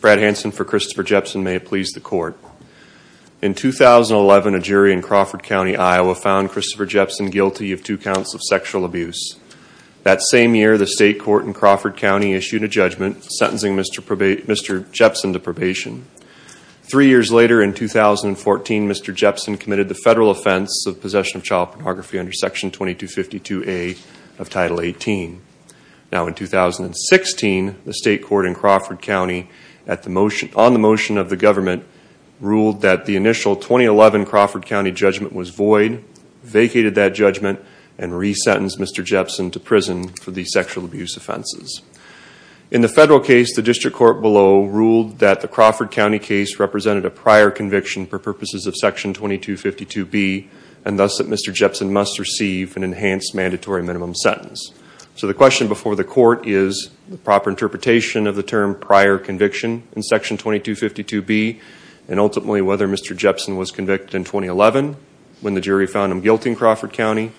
Brad Hanson for Christopher Jepsen may it please the court. In 2011, a jury in Crawford County, Iowa found Christopher Jepsen guilty of two counts of sexual abuse. That same year, the state court in Crawford County issued a judgment sentencing Mr. Jepsen to probation. Three years later, in 2014, Mr. Jepsen committed the federal offense of possession of child pornography under Section 2252A of Title 18. Now in 2016, the state court in Crawford County, on the motion of the government, ruled that the initial 2011 Crawford County judgment was void, vacated that judgment, and resentenced Mr. Jepsen to prison for these sexual abuse offenses. In the federal case, the district court below ruled that the Crawford County case represented a prior conviction for purposes of Section 2252B, and thus that Mr. Jepsen must receive an enhanced mandatory minimum sentence. So the question before the court is the proper interpretation of the term prior conviction in Section 2252B, and ultimately whether Mr. Jepsen was convicted in 2011 when the jury found him guilty in Crawford County,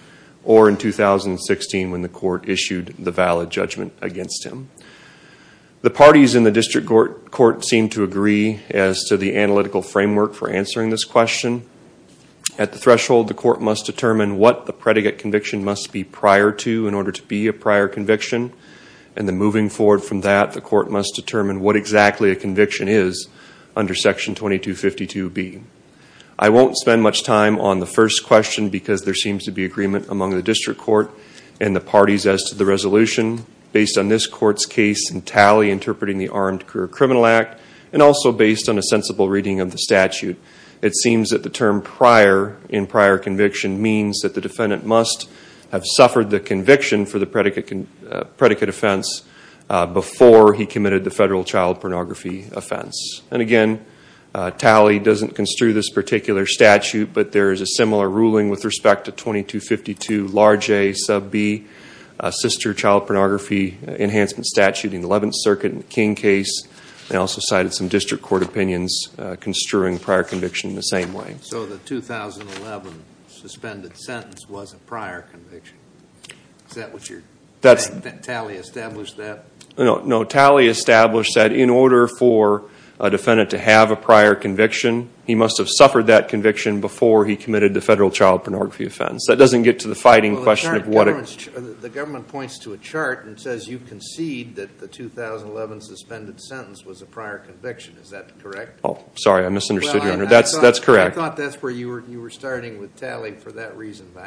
or in 2016 when the court issued the valid judgment against him. The parties in the district court seem to agree as to the analytical framework for answering this question. At the threshold, the court must determine what the predicate conviction must be prior to in order to be a prior conviction, and then moving forward from that, the court must determine what exactly a conviction is under Section 2252B. I won't spend much time on the first question because there seems to be agreement among the district court and the parties as to the resolution. Based on this court's case and tally interpreting the Armed Career Criminal Act, and also based on a sensible reading of the statute, it seems that the term prior in prior conviction means that the defendant must have suffered the conviction for the predicate offense before he committed the federal child pornography offense. And again, tally doesn't construe this particular statute, but there is a similar ruling with respect to 2252 large A, sub B, sister child pornography enhancement statute in the 11th Circuit in the King case, and also cited some district court opinions construing prior conviction in the same way. So the 2011 suspended sentence was a prior conviction. Is that what your tally established that? No, tally established that in order for a defendant to have a prior conviction, he must have suffered that conviction before he committed the federal child pornography offense. That doesn't get to the fighting question of what it... The government points to a chart and says you concede that the 2011 suspended sentence was a prior conviction. Is that correct? Sorry, I misunderstood, Your Honor. That's correct. I thought that's where you were starting with tally for that reason, but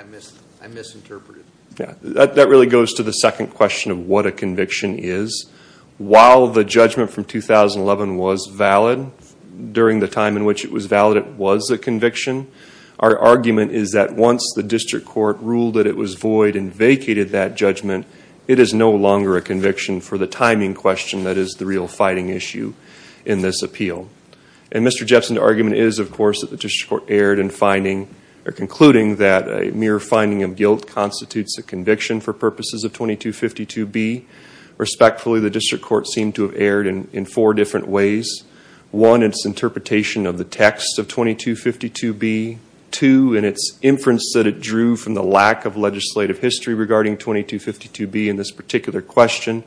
I misinterpreted. That really goes to the second question of what a conviction is. While the judgment from 2011 was valid, during the time in which it was valid it was a conviction, our argument is that once the district court ruled that it was void and vacated that judgment, it is no longer a conviction for the timing question that is the real fighting issue in this appeal. And Mr. Jepson's argument is, of course, that the district court erred in finding or concluding that a mere finding of guilt constitutes a conviction for purposes of 2252B. Respectfully, the district court seemed to have erred in four different ways. One, its interpretation of the text of 2252B. Two, in its inference that it drew from the lack of legislative history regarding 2252B in this particular question.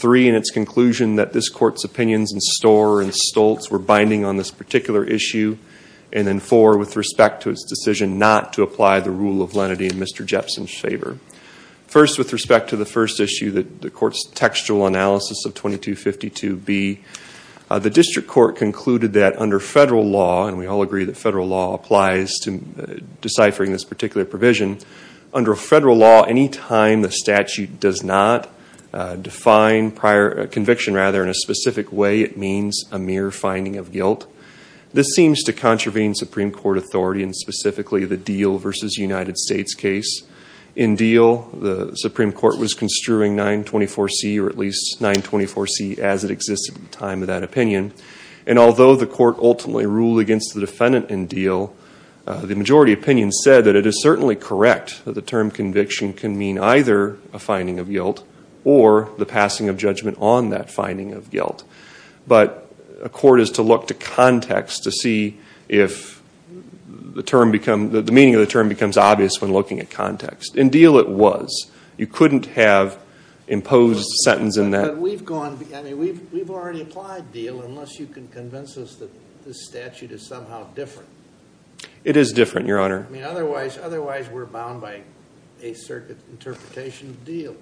Three, in its conclusion that this court's opinions in Storer and Stoltz were binding on this particular issue. And then four, with respect to its decision not to apply the rule of lenity in Mr. Jepson's favor. First, with respect to the first issue, the court's textual analysis of 2252B, the district court concluded that under federal law, and we all agree that federal law applies to deciphering this particular provision, under federal law, any time the statute does not define conviction in a specific way, it means a mere finding of guilt. This seems to contravene Supreme Court authority, and specifically the Deal v. United States case. In Deal, the Supreme Court was construing 924C or at least 924C as it existed at the time of that opinion. And although the court ultimately ruled against the defendant in Deal, the majority opinion said that it is certainly correct that the term conviction can mean either a finding of guilt or the passing of judgment on that finding of guilt. But a court is to look to context to see if the term becomes, the meaning of the term becomes obvious when looking at context. In Deal it was. You couldn't have imposed a sentence in that. But we've gone, I mean, we've already applied Deal, unless you can convince us that this statute is somehow different. It is different, Your Honor. I mean, otherwise we're bound by a circuit interpretation of Deal.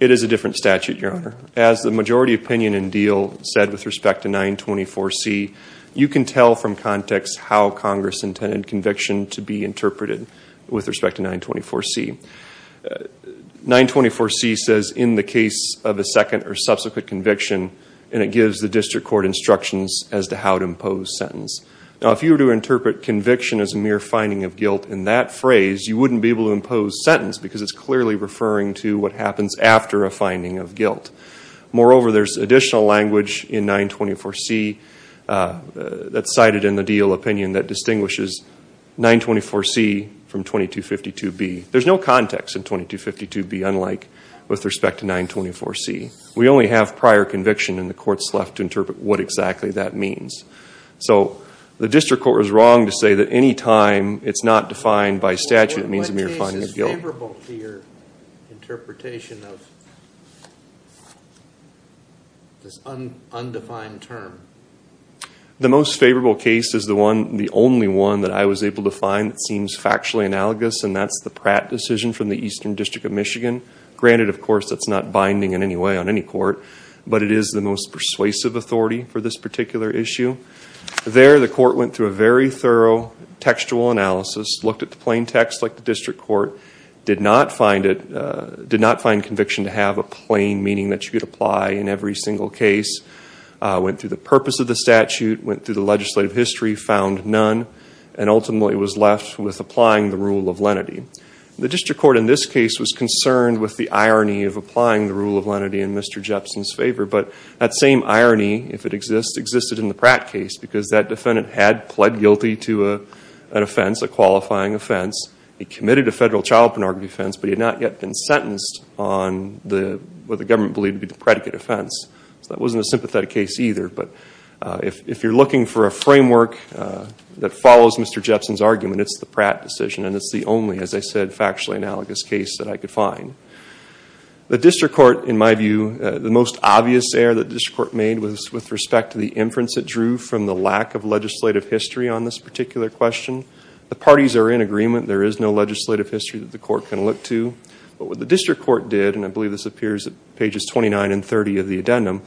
It is a different statute, Your Honor. As the majority opinion in Deal said with respect to 924C, you can tell from context how Congress intended conviction to be interpreted with respect to 924C. 924C says, in the case of a second or subsequent conviction, and it gives the district court instructions as to how to impose sentence. Now, if you were to interpret conviction as a mere finding of guilt in that phrase, you wouldn't be able to impose sentence because it's clearly referring to what happens after a finding of guilt. Moreover, there's additional language in 924C that's cited in the Deal opinion that distinguishes 924C from 2252B. There's no context in 2252B unlike with respect to 924C. We only have prior conviction, and the court's left to interpret what exactly that means. The district court was wrong to say that any time it's not defined by statute, it means a mere finding of guilt. What case is favorable to your interpretation of this undefined term? The most favorable case is the only one that I was able to find that seems factually analogous, and that's the Pratt decision from the Eastern District of Michigan. Granted, of course, that's not binding in any way on any court, but it is the most persuasive authority for this particular issue. There, the court went through a very thorough textual analysis, looked at the plain text like the district court, did not find conviction to have a plain meaning that you could apply in every single case, went through the purpose of the statute, went through the legislative history, found none, and ultimately was left with applying the rule of lenity. The district court in this case was concerned with the irony of applying the rule of lenity in Mr. Jepson's favor, but that same irony, if it exists, existed in the Pratt case, because that defendant had pled guilty to an offense, a qualifying offense. He committed a federal child pornography offense, but he had not yet been sentenced on what the government believed to be the predicate offense. So that wasn't a sympathetic case either, but if you're looking for a framework that follows Mr. Jepson's argument, it's the Pratt decision, and it's the only, as I said, factually analogous case that I could find. The district court, in my view, the most obvious error that the district court made was with respect to the inference it drew from the lack of legislative history on this particular question. The parties are in agreement. There is no legislative history that the court can look to, but what the district court did, and I believe this appears at pages 29 and 30 of the addendum,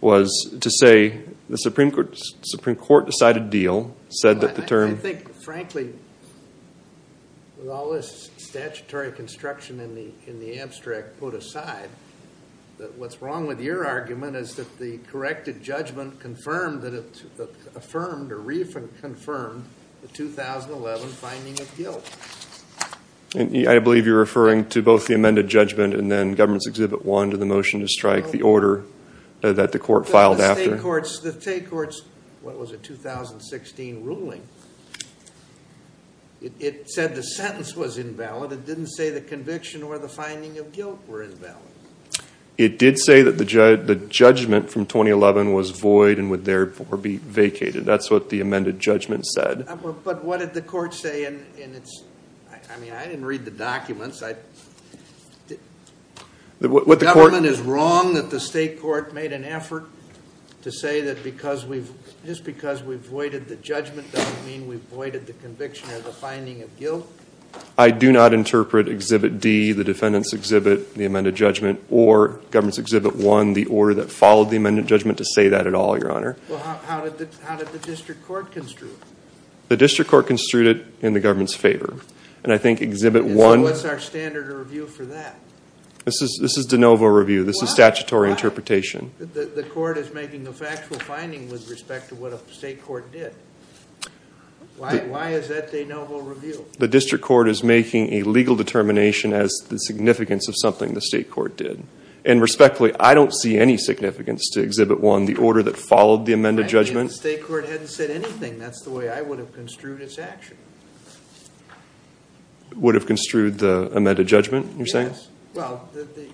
was to say the Supreme Court decided deal, said that the term... I think, frankly, with all this statutory construction in the abstract put aside, that what's wrong with your argument is that the corrected judgment confirmed, that it affirmed or reaffirmed the 2011 finding of guilt. I believe you're referring to both the amended judgment and then government's exhibit one to the motion to strike the order that the court filed after. The state court's, what was it, 2016 ruling, it said the sentence was invalid. It didn't say the conviction or the finding of guilt were invalid. It did say that the judgment from 2011 was void and would therefore be vacated. That's what the amended judgment said. But what did the court say in its... The government is wrong that the state court made an effort to say that just because we've voided the judgment doesn't mean we've voided the conviction or the finding of guilt? I do not interpret exhibit D, the defendant's exhibit, the amended judgment, or government's exhibit one, the order that followed the amended judgment, to say that at all, Your Honor. How did the district court construe it? What's our standard of review for that? This is de novo review. This is statutory interpretation. The court is making a factual finding with respect to what a state court did. Why is that de novo review? The district court is making a legal determination as the significance of something the state court did. And respectfully, I don't see any significance to exhibit one, the order that followed the amended judgment. If the state court hadn't said anything, that's the way I would have construed its action. Would have construed the amended judgment, you're saying? Yes. Well,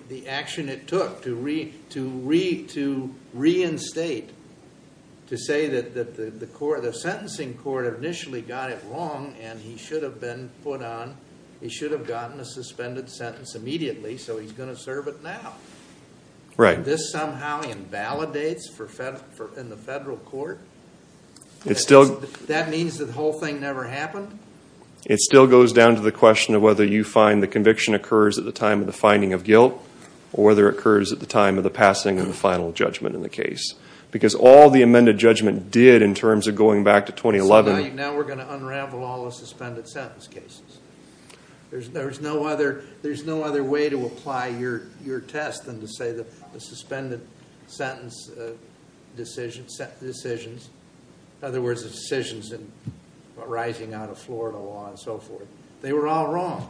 the action it took to reinstate, to say that the sentencing court initially got it wrong and he should have been put on, he should have gotten a suspended sentence immediately, so he's going to serve it now. This somehow invalidates in the federal court? That means that the whole thing never happened? It still goes down to the question of whether you find the conviction occurs at the time of the finding of guilt, or whether it occurs at the time of the passing of the final judgment in the case. Because all the amended judgment did in terms of going back to 2011... So now we're going to unravel all the suspended sentence cases. There's no other way to apply your test than to say that the suspended sentence decisions, in other words, the decisions arising out of Florida law and so forth, they were all wrong.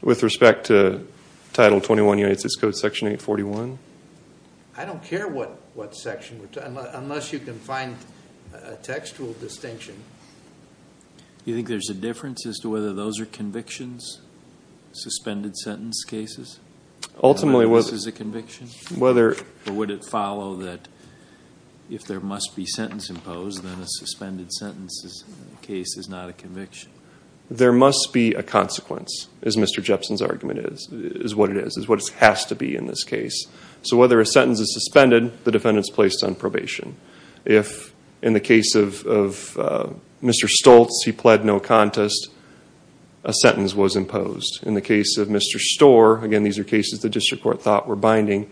With respect to Title 21 United States Code Section 841? I don't care what section, unless you can find a textual distinction. You think there's a difference as to whether those are convictions, suspended sentence cases? Ultimately, whether... This is a conviction? Whether... Or would it follow that if there must be sentence imposed, then a suspended sentence case is not a conviction? There must be a consequence, as Mr. Jepson's argument is, is what it is, is what it has to be in this case. So whether a sentence is suspended, the defendant's placed on probation. If, in the case of Mr. Stoltz, he pled no contest, a sentence was imposed. In the case of Mr. Storr, again, these are cases the district court thought were binding,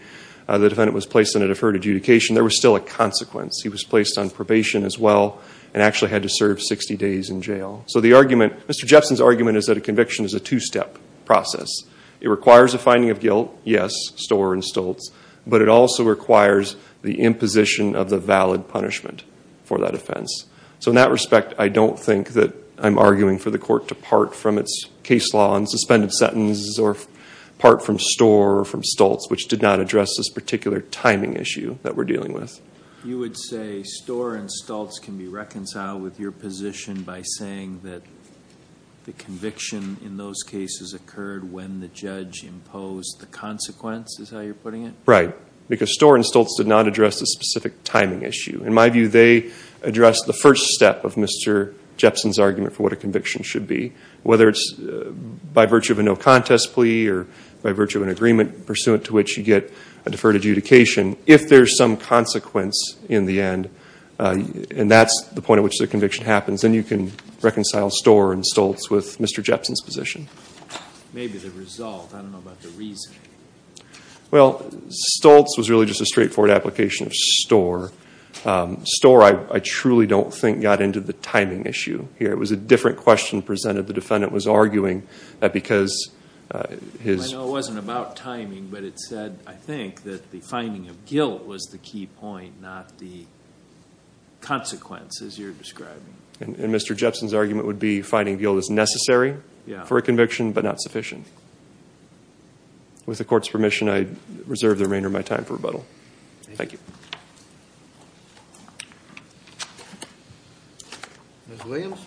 the defendant was placed on a deferred adjudication, there was still a consequence. He was placed on probation as well and actually had to serve 60 days in jail. So the argument, Mr. Jepson's argument is that a conviction is a two-step process. It requires a finding of guilt, yes, Storr and Stoltz, but it also requires the imposition of the valid punishment for that offense. So in that respect, I don't think that I'm arguing for the court to part from its case law and suspended sentences or part from Storr or from Stoltz, which did not address this particular timing issue that we're dealing with. You would say Storr and Stoltz can be reconciled with your position by saying that the conviction in those cases occurred when the judge imposed the consequence, is how you're putting it? Right, because Storr and Stoltz did not address the specific timing issue. In my view, they addressed the first step of Mr. Jepson's argument for what a conviction should be, whether it's by virtue of a no contest plea or by virtue of an agreement pursuant to which you get a deferred adjudication. If there's some consequence in the end, and that's the point at which the conviction happens, then you can reconcile Storr and Stoltz with Mr. Jepson's position. Maybe the result. I don't know about the reasoning. Well, Stoltz was really just a straightforward application of Storr. Storr, I truly don't think, got into the timing issue here. It was a different question presented. The defendant was arguing that because his... I know it wasn't about timing, but it said, I think, that the finding of guilt was the key point, not the consequences you're describing. And Mr. Jepson's argument would be finding guilt is necessary for a conviction but not sufficient. With the Court's permission, I reserve the remainder of my time for rebuttal. Thank you. Ms. Williams?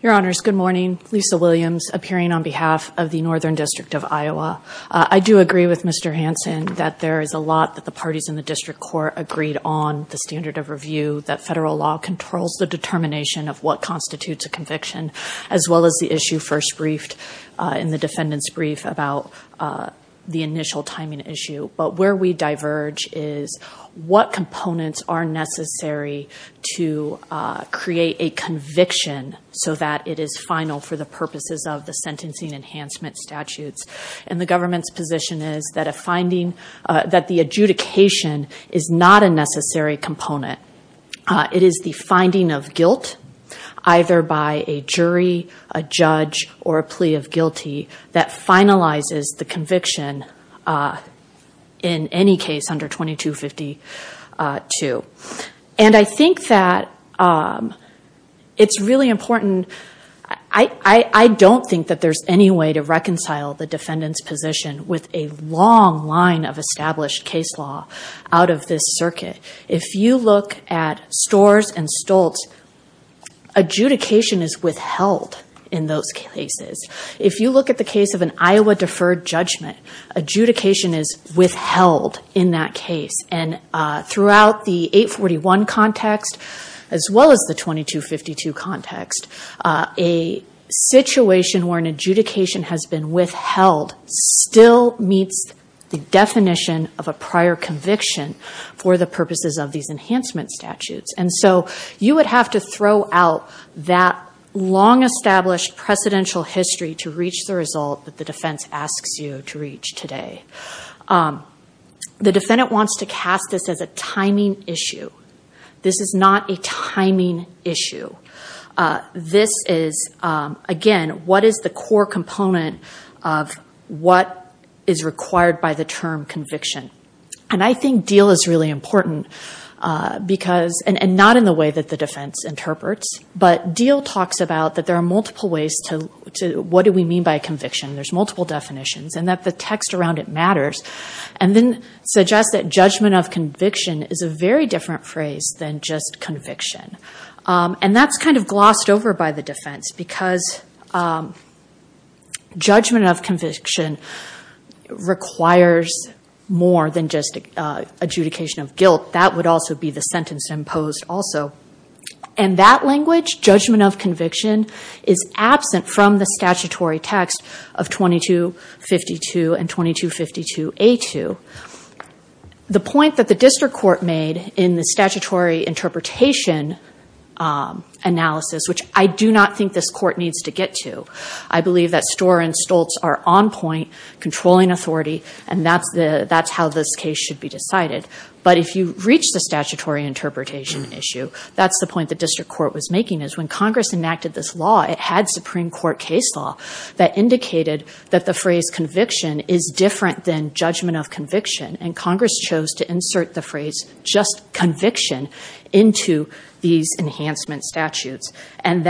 Your Honors, good morning. Lisa Williams, appearing on behalf of the Northern District of Iowa. I do agree with Mr. Hanson that there is a lot that the parties in the district court agreed on, the standard of review, that federal law controls the determination of what constitutes a conviction, as well as the issue first briefed in the defendant's brief about the initial timing issue. But where we diverge is what components are necessary to create a conviction so that it is final for the purposes of the sentencing enhancement statutes. And the government's position is that the adjudication is not a necessary component. It is the finding of guilt, either by a jury, a judge, or a plea of guilty that finalizes the conviction in any case under 2252. And I think that it's really important. I don't think that there's any way to reconcile the defendant's position with a long line of established case law out of this circuit. If you look at Storrs and Stoltz, adjudication is withheld in those cases. If you look at the case of an Iowa deferred judgment, adjudication is withheld in that case. And throughout the 841 context, as well as the 2252 context, a situation where an adjudication has been withheld still meets the definition of a prior conviction for the purposes of these enhancement statutes. And so you would have to throw out that long established precedential history to reach the result that the defense asks you to reach today. The defendant wants to cast this as a timing issue. This is not a timing issue. This is, again, what is the core component of what is required by the term conviction. And I think Diehl is really important, and not in the way that the defense interprets, but Diehl talks about that there are multiple ways to, what do we mean by conviction? There's multiple definitions, and that the text around it matters, and then suggests that judgment of conviction is a very different phrase than just conviction. And that's kind of glossed over by the defense, because judgment of conviction requires more than just adjudication of guilt. That would also be the sentence imposed also. And that language, judgment of conviction, is absent from the statutory text of 2252 and 2252A2. The point that the district court made in the statutory interpretation analysis, which I do not think this court needs to get to, I believe that Storer and Stoltz are on point, controlling authority, and that's how this case should be decided. But if you reach the statutory interpretation issue, that's the point the district court was making, is when Congress enacted this law, it had Supreme Court case law that indicated that the phrase conviction is different than judgment of conviction, and Congress chose to insert the phrase just conviction into these enhancement statutes. And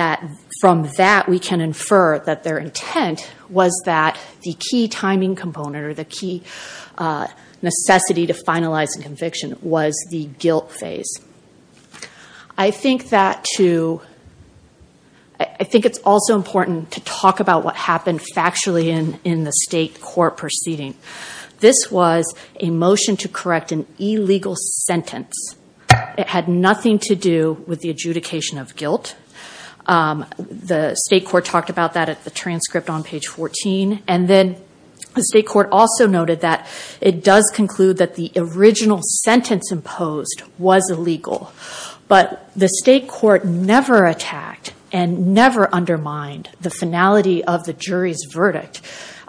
from that, we can infer that their intent was that the key timing component, or the key necessity to finalize a conviction, was the guilt phase. I think it's also important to talk about what happened factually in the state court proceeding. This was a motion to correct an illegal sentence. It had nothing to do with the adjudication of guilt. The state court talked about that at the transcript on page 14. And then the state court also noted that it does conclude that the original sentence imposed was illegal. But the state court never attacked and never undermined the finality of the jury's verdict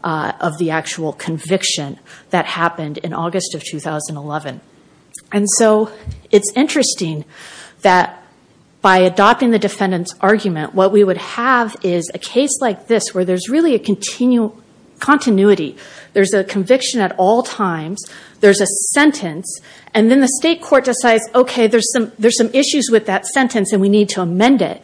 of the actual conviction that happened in August of 2011. And so it's interesting that by adopting the defendant's argument, what we would have is a case like this where there's really a continuity. There's a conviction at all times. There's a sentence. And then the state court decides, okay, there's some issues with that sentence, and we need to amend it.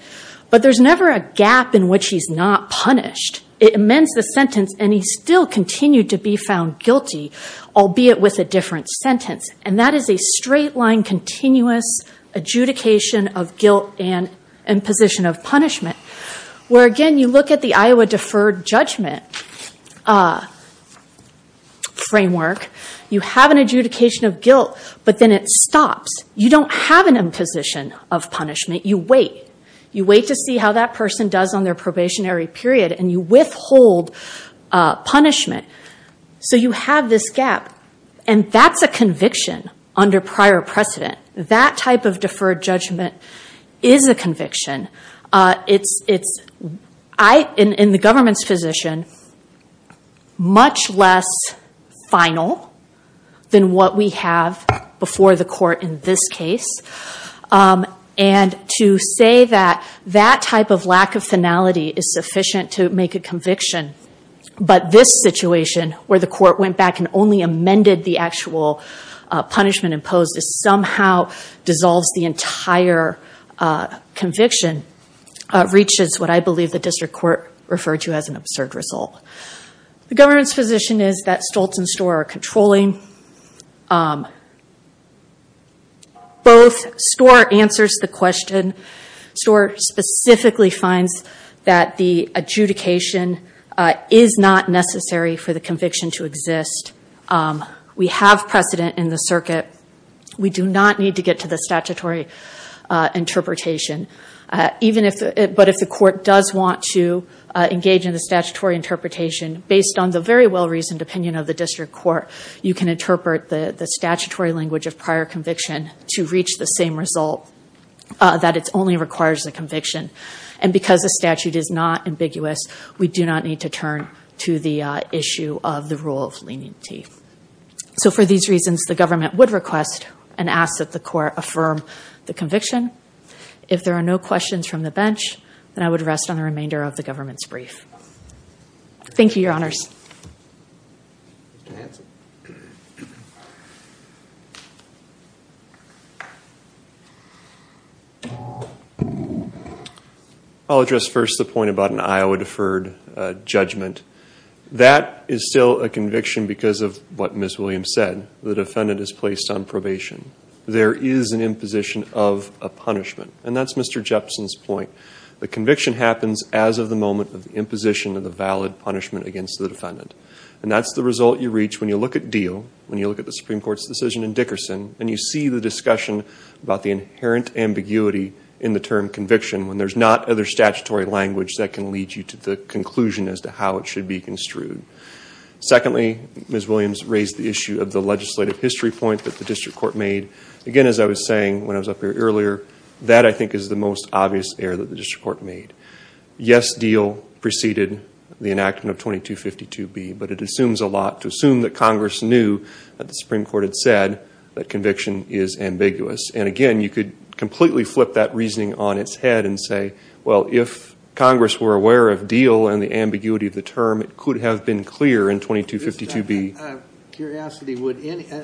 But there's never a gap in which he's not punished. It amends the sentence, and he still continued to be found guilty, albeit with a different sentence. And that is a straight-line, continuous adjudication of guilt and imposition of punishment, where, again, you look at the Iowa deferred judgment framework. You have an adjudication of guilt, but then it stops. You don't have an imposition of punishment. You wait. You wait to see how that person does on their probationary period, and you withhold punishment. So you have this gap. And that's a conviction under prior precedent. That type of deferred judgment is a conviction. It's, in the government's position, much less final than what we have before the court in this case. And to say that that type of lack of finality is sufficient to make a conviction, but this situation, where the court went back and only amended the actual punishment imposed, is somehow dissolves the entire conviction, reaches what I believe the district court referred to as an absurd result. The government's position is that Stoltz and Storer are controlling. Both Storer answers the question. Storer specifically finds that the adjudication is not necessary for the conviction to exist. We have precedent in the circuit. We do not need to get to the statutory interpretation. But if the court does want to engage in the statutory interpretation, based on the very well-reasoned opinion of the district court, you can interpret the statutory language of prior conviction to reach the same result, that it only requires a conviction. And because the statute is not ambiguous, we do not need to turn to the issue of the rule of leniency. So for these reasons, the government would request and ask that the court affirm the conviction. If there are no questions from the bench, then I would rest on the remainder of the government's brief. Thank you, Your Honors. I'll address first the point about an Iowa deferred judgment. That is still a conviction because of what Ms. Williams said. The defendant is placed on probation. There is an imposition of a punishment. And that's Mr. Jepson's point. The conviction happens as of the moment of the imposition of the valid punishment against the defendant. And that's the result you reach when you look at Deal, when you look at the Supreme Court's decision in Dickerson, and you see the discussion about the inherent ambiguity in the term conviction, when there's not other statutory language that can lead you to the conclusion as to how it should be construed. Secondly, Ms. Williams raised the issue of the legislative history point that the district court made. Again, as I was saying when I was up here earlier, that I think is the most obvious error that the district court made. Yes, Deal preceded the enactment of 2252B, but it assumes a lot to assume that Congress knew that the Supreme Court had said that conviction is ambiguous. And again, you could completely flip that reasoning on its head and say, well, if Congress were aware of Deal and the ambiguity of the term, it could have been clear in 2252B. I have a curiosity.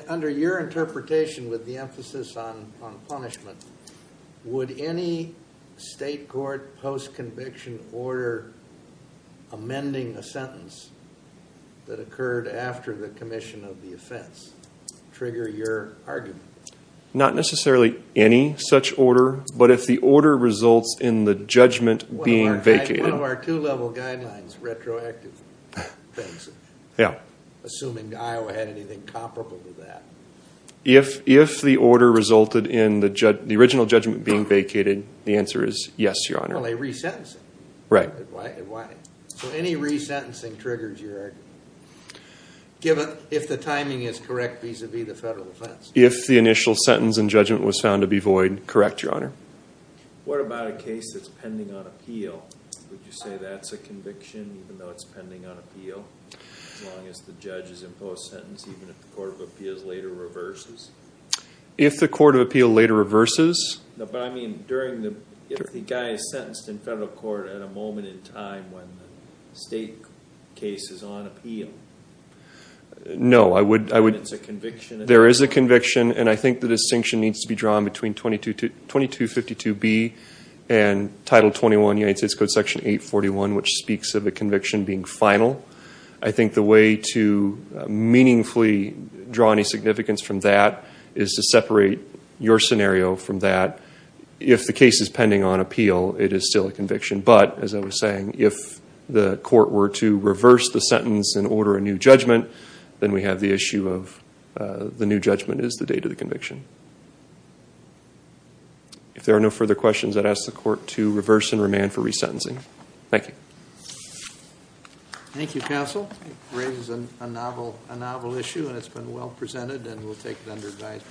Under your interpretation with the emphasis on punishment, would any state court post-conviction order amending a sentence that occurred after the commission of the offense trigger your argument? Not necessarily any such order, but if the order results in the judgment being vacated. One of our two-level guidelines, retroactive. Assuming Iowa had anything comparable to that. If the order resulted in the original judgment being vacated, the answer is yes, Your Honor. Well, they re-sentence it. Right. So any re-sentencing triggers your argument, if the timing is correct vis-a-vis the federal defense. If the initial sentence and judgment was found to be void, correct, Your Honor. What about a case that's pending on appeal? Would you say that's a conviction, even though it's pending on appeal? As long as the judge is in post-sentence, even if the Court of Appeals later reverses? If the Court of Appeals later reverses? No, but I mean, if the guy is sentenced in federal court at a moment in time when the state case is on appeal. No, I would... Then it's a conviction. There is a conviction, and I think the distinction needs to be drawn between 2252B and Title 21, United States Code Section 841, which speaks of a conviction being final. I think the way to meaningfully draw any significance from that is to separate your scenario from that. If the case is pending on appeal, it is still a conviction. But, as I was saying, if the court were to reverse the sentence and order a new judgment, then we have the issue of the new judgment is the date of the conviction. If there are no further questions, I'd ask the court to reverse and remand for resentencing. Thank you. Thank you, counsel. It raises a novel issue, and it's been well presented, and we'll take it under advisement.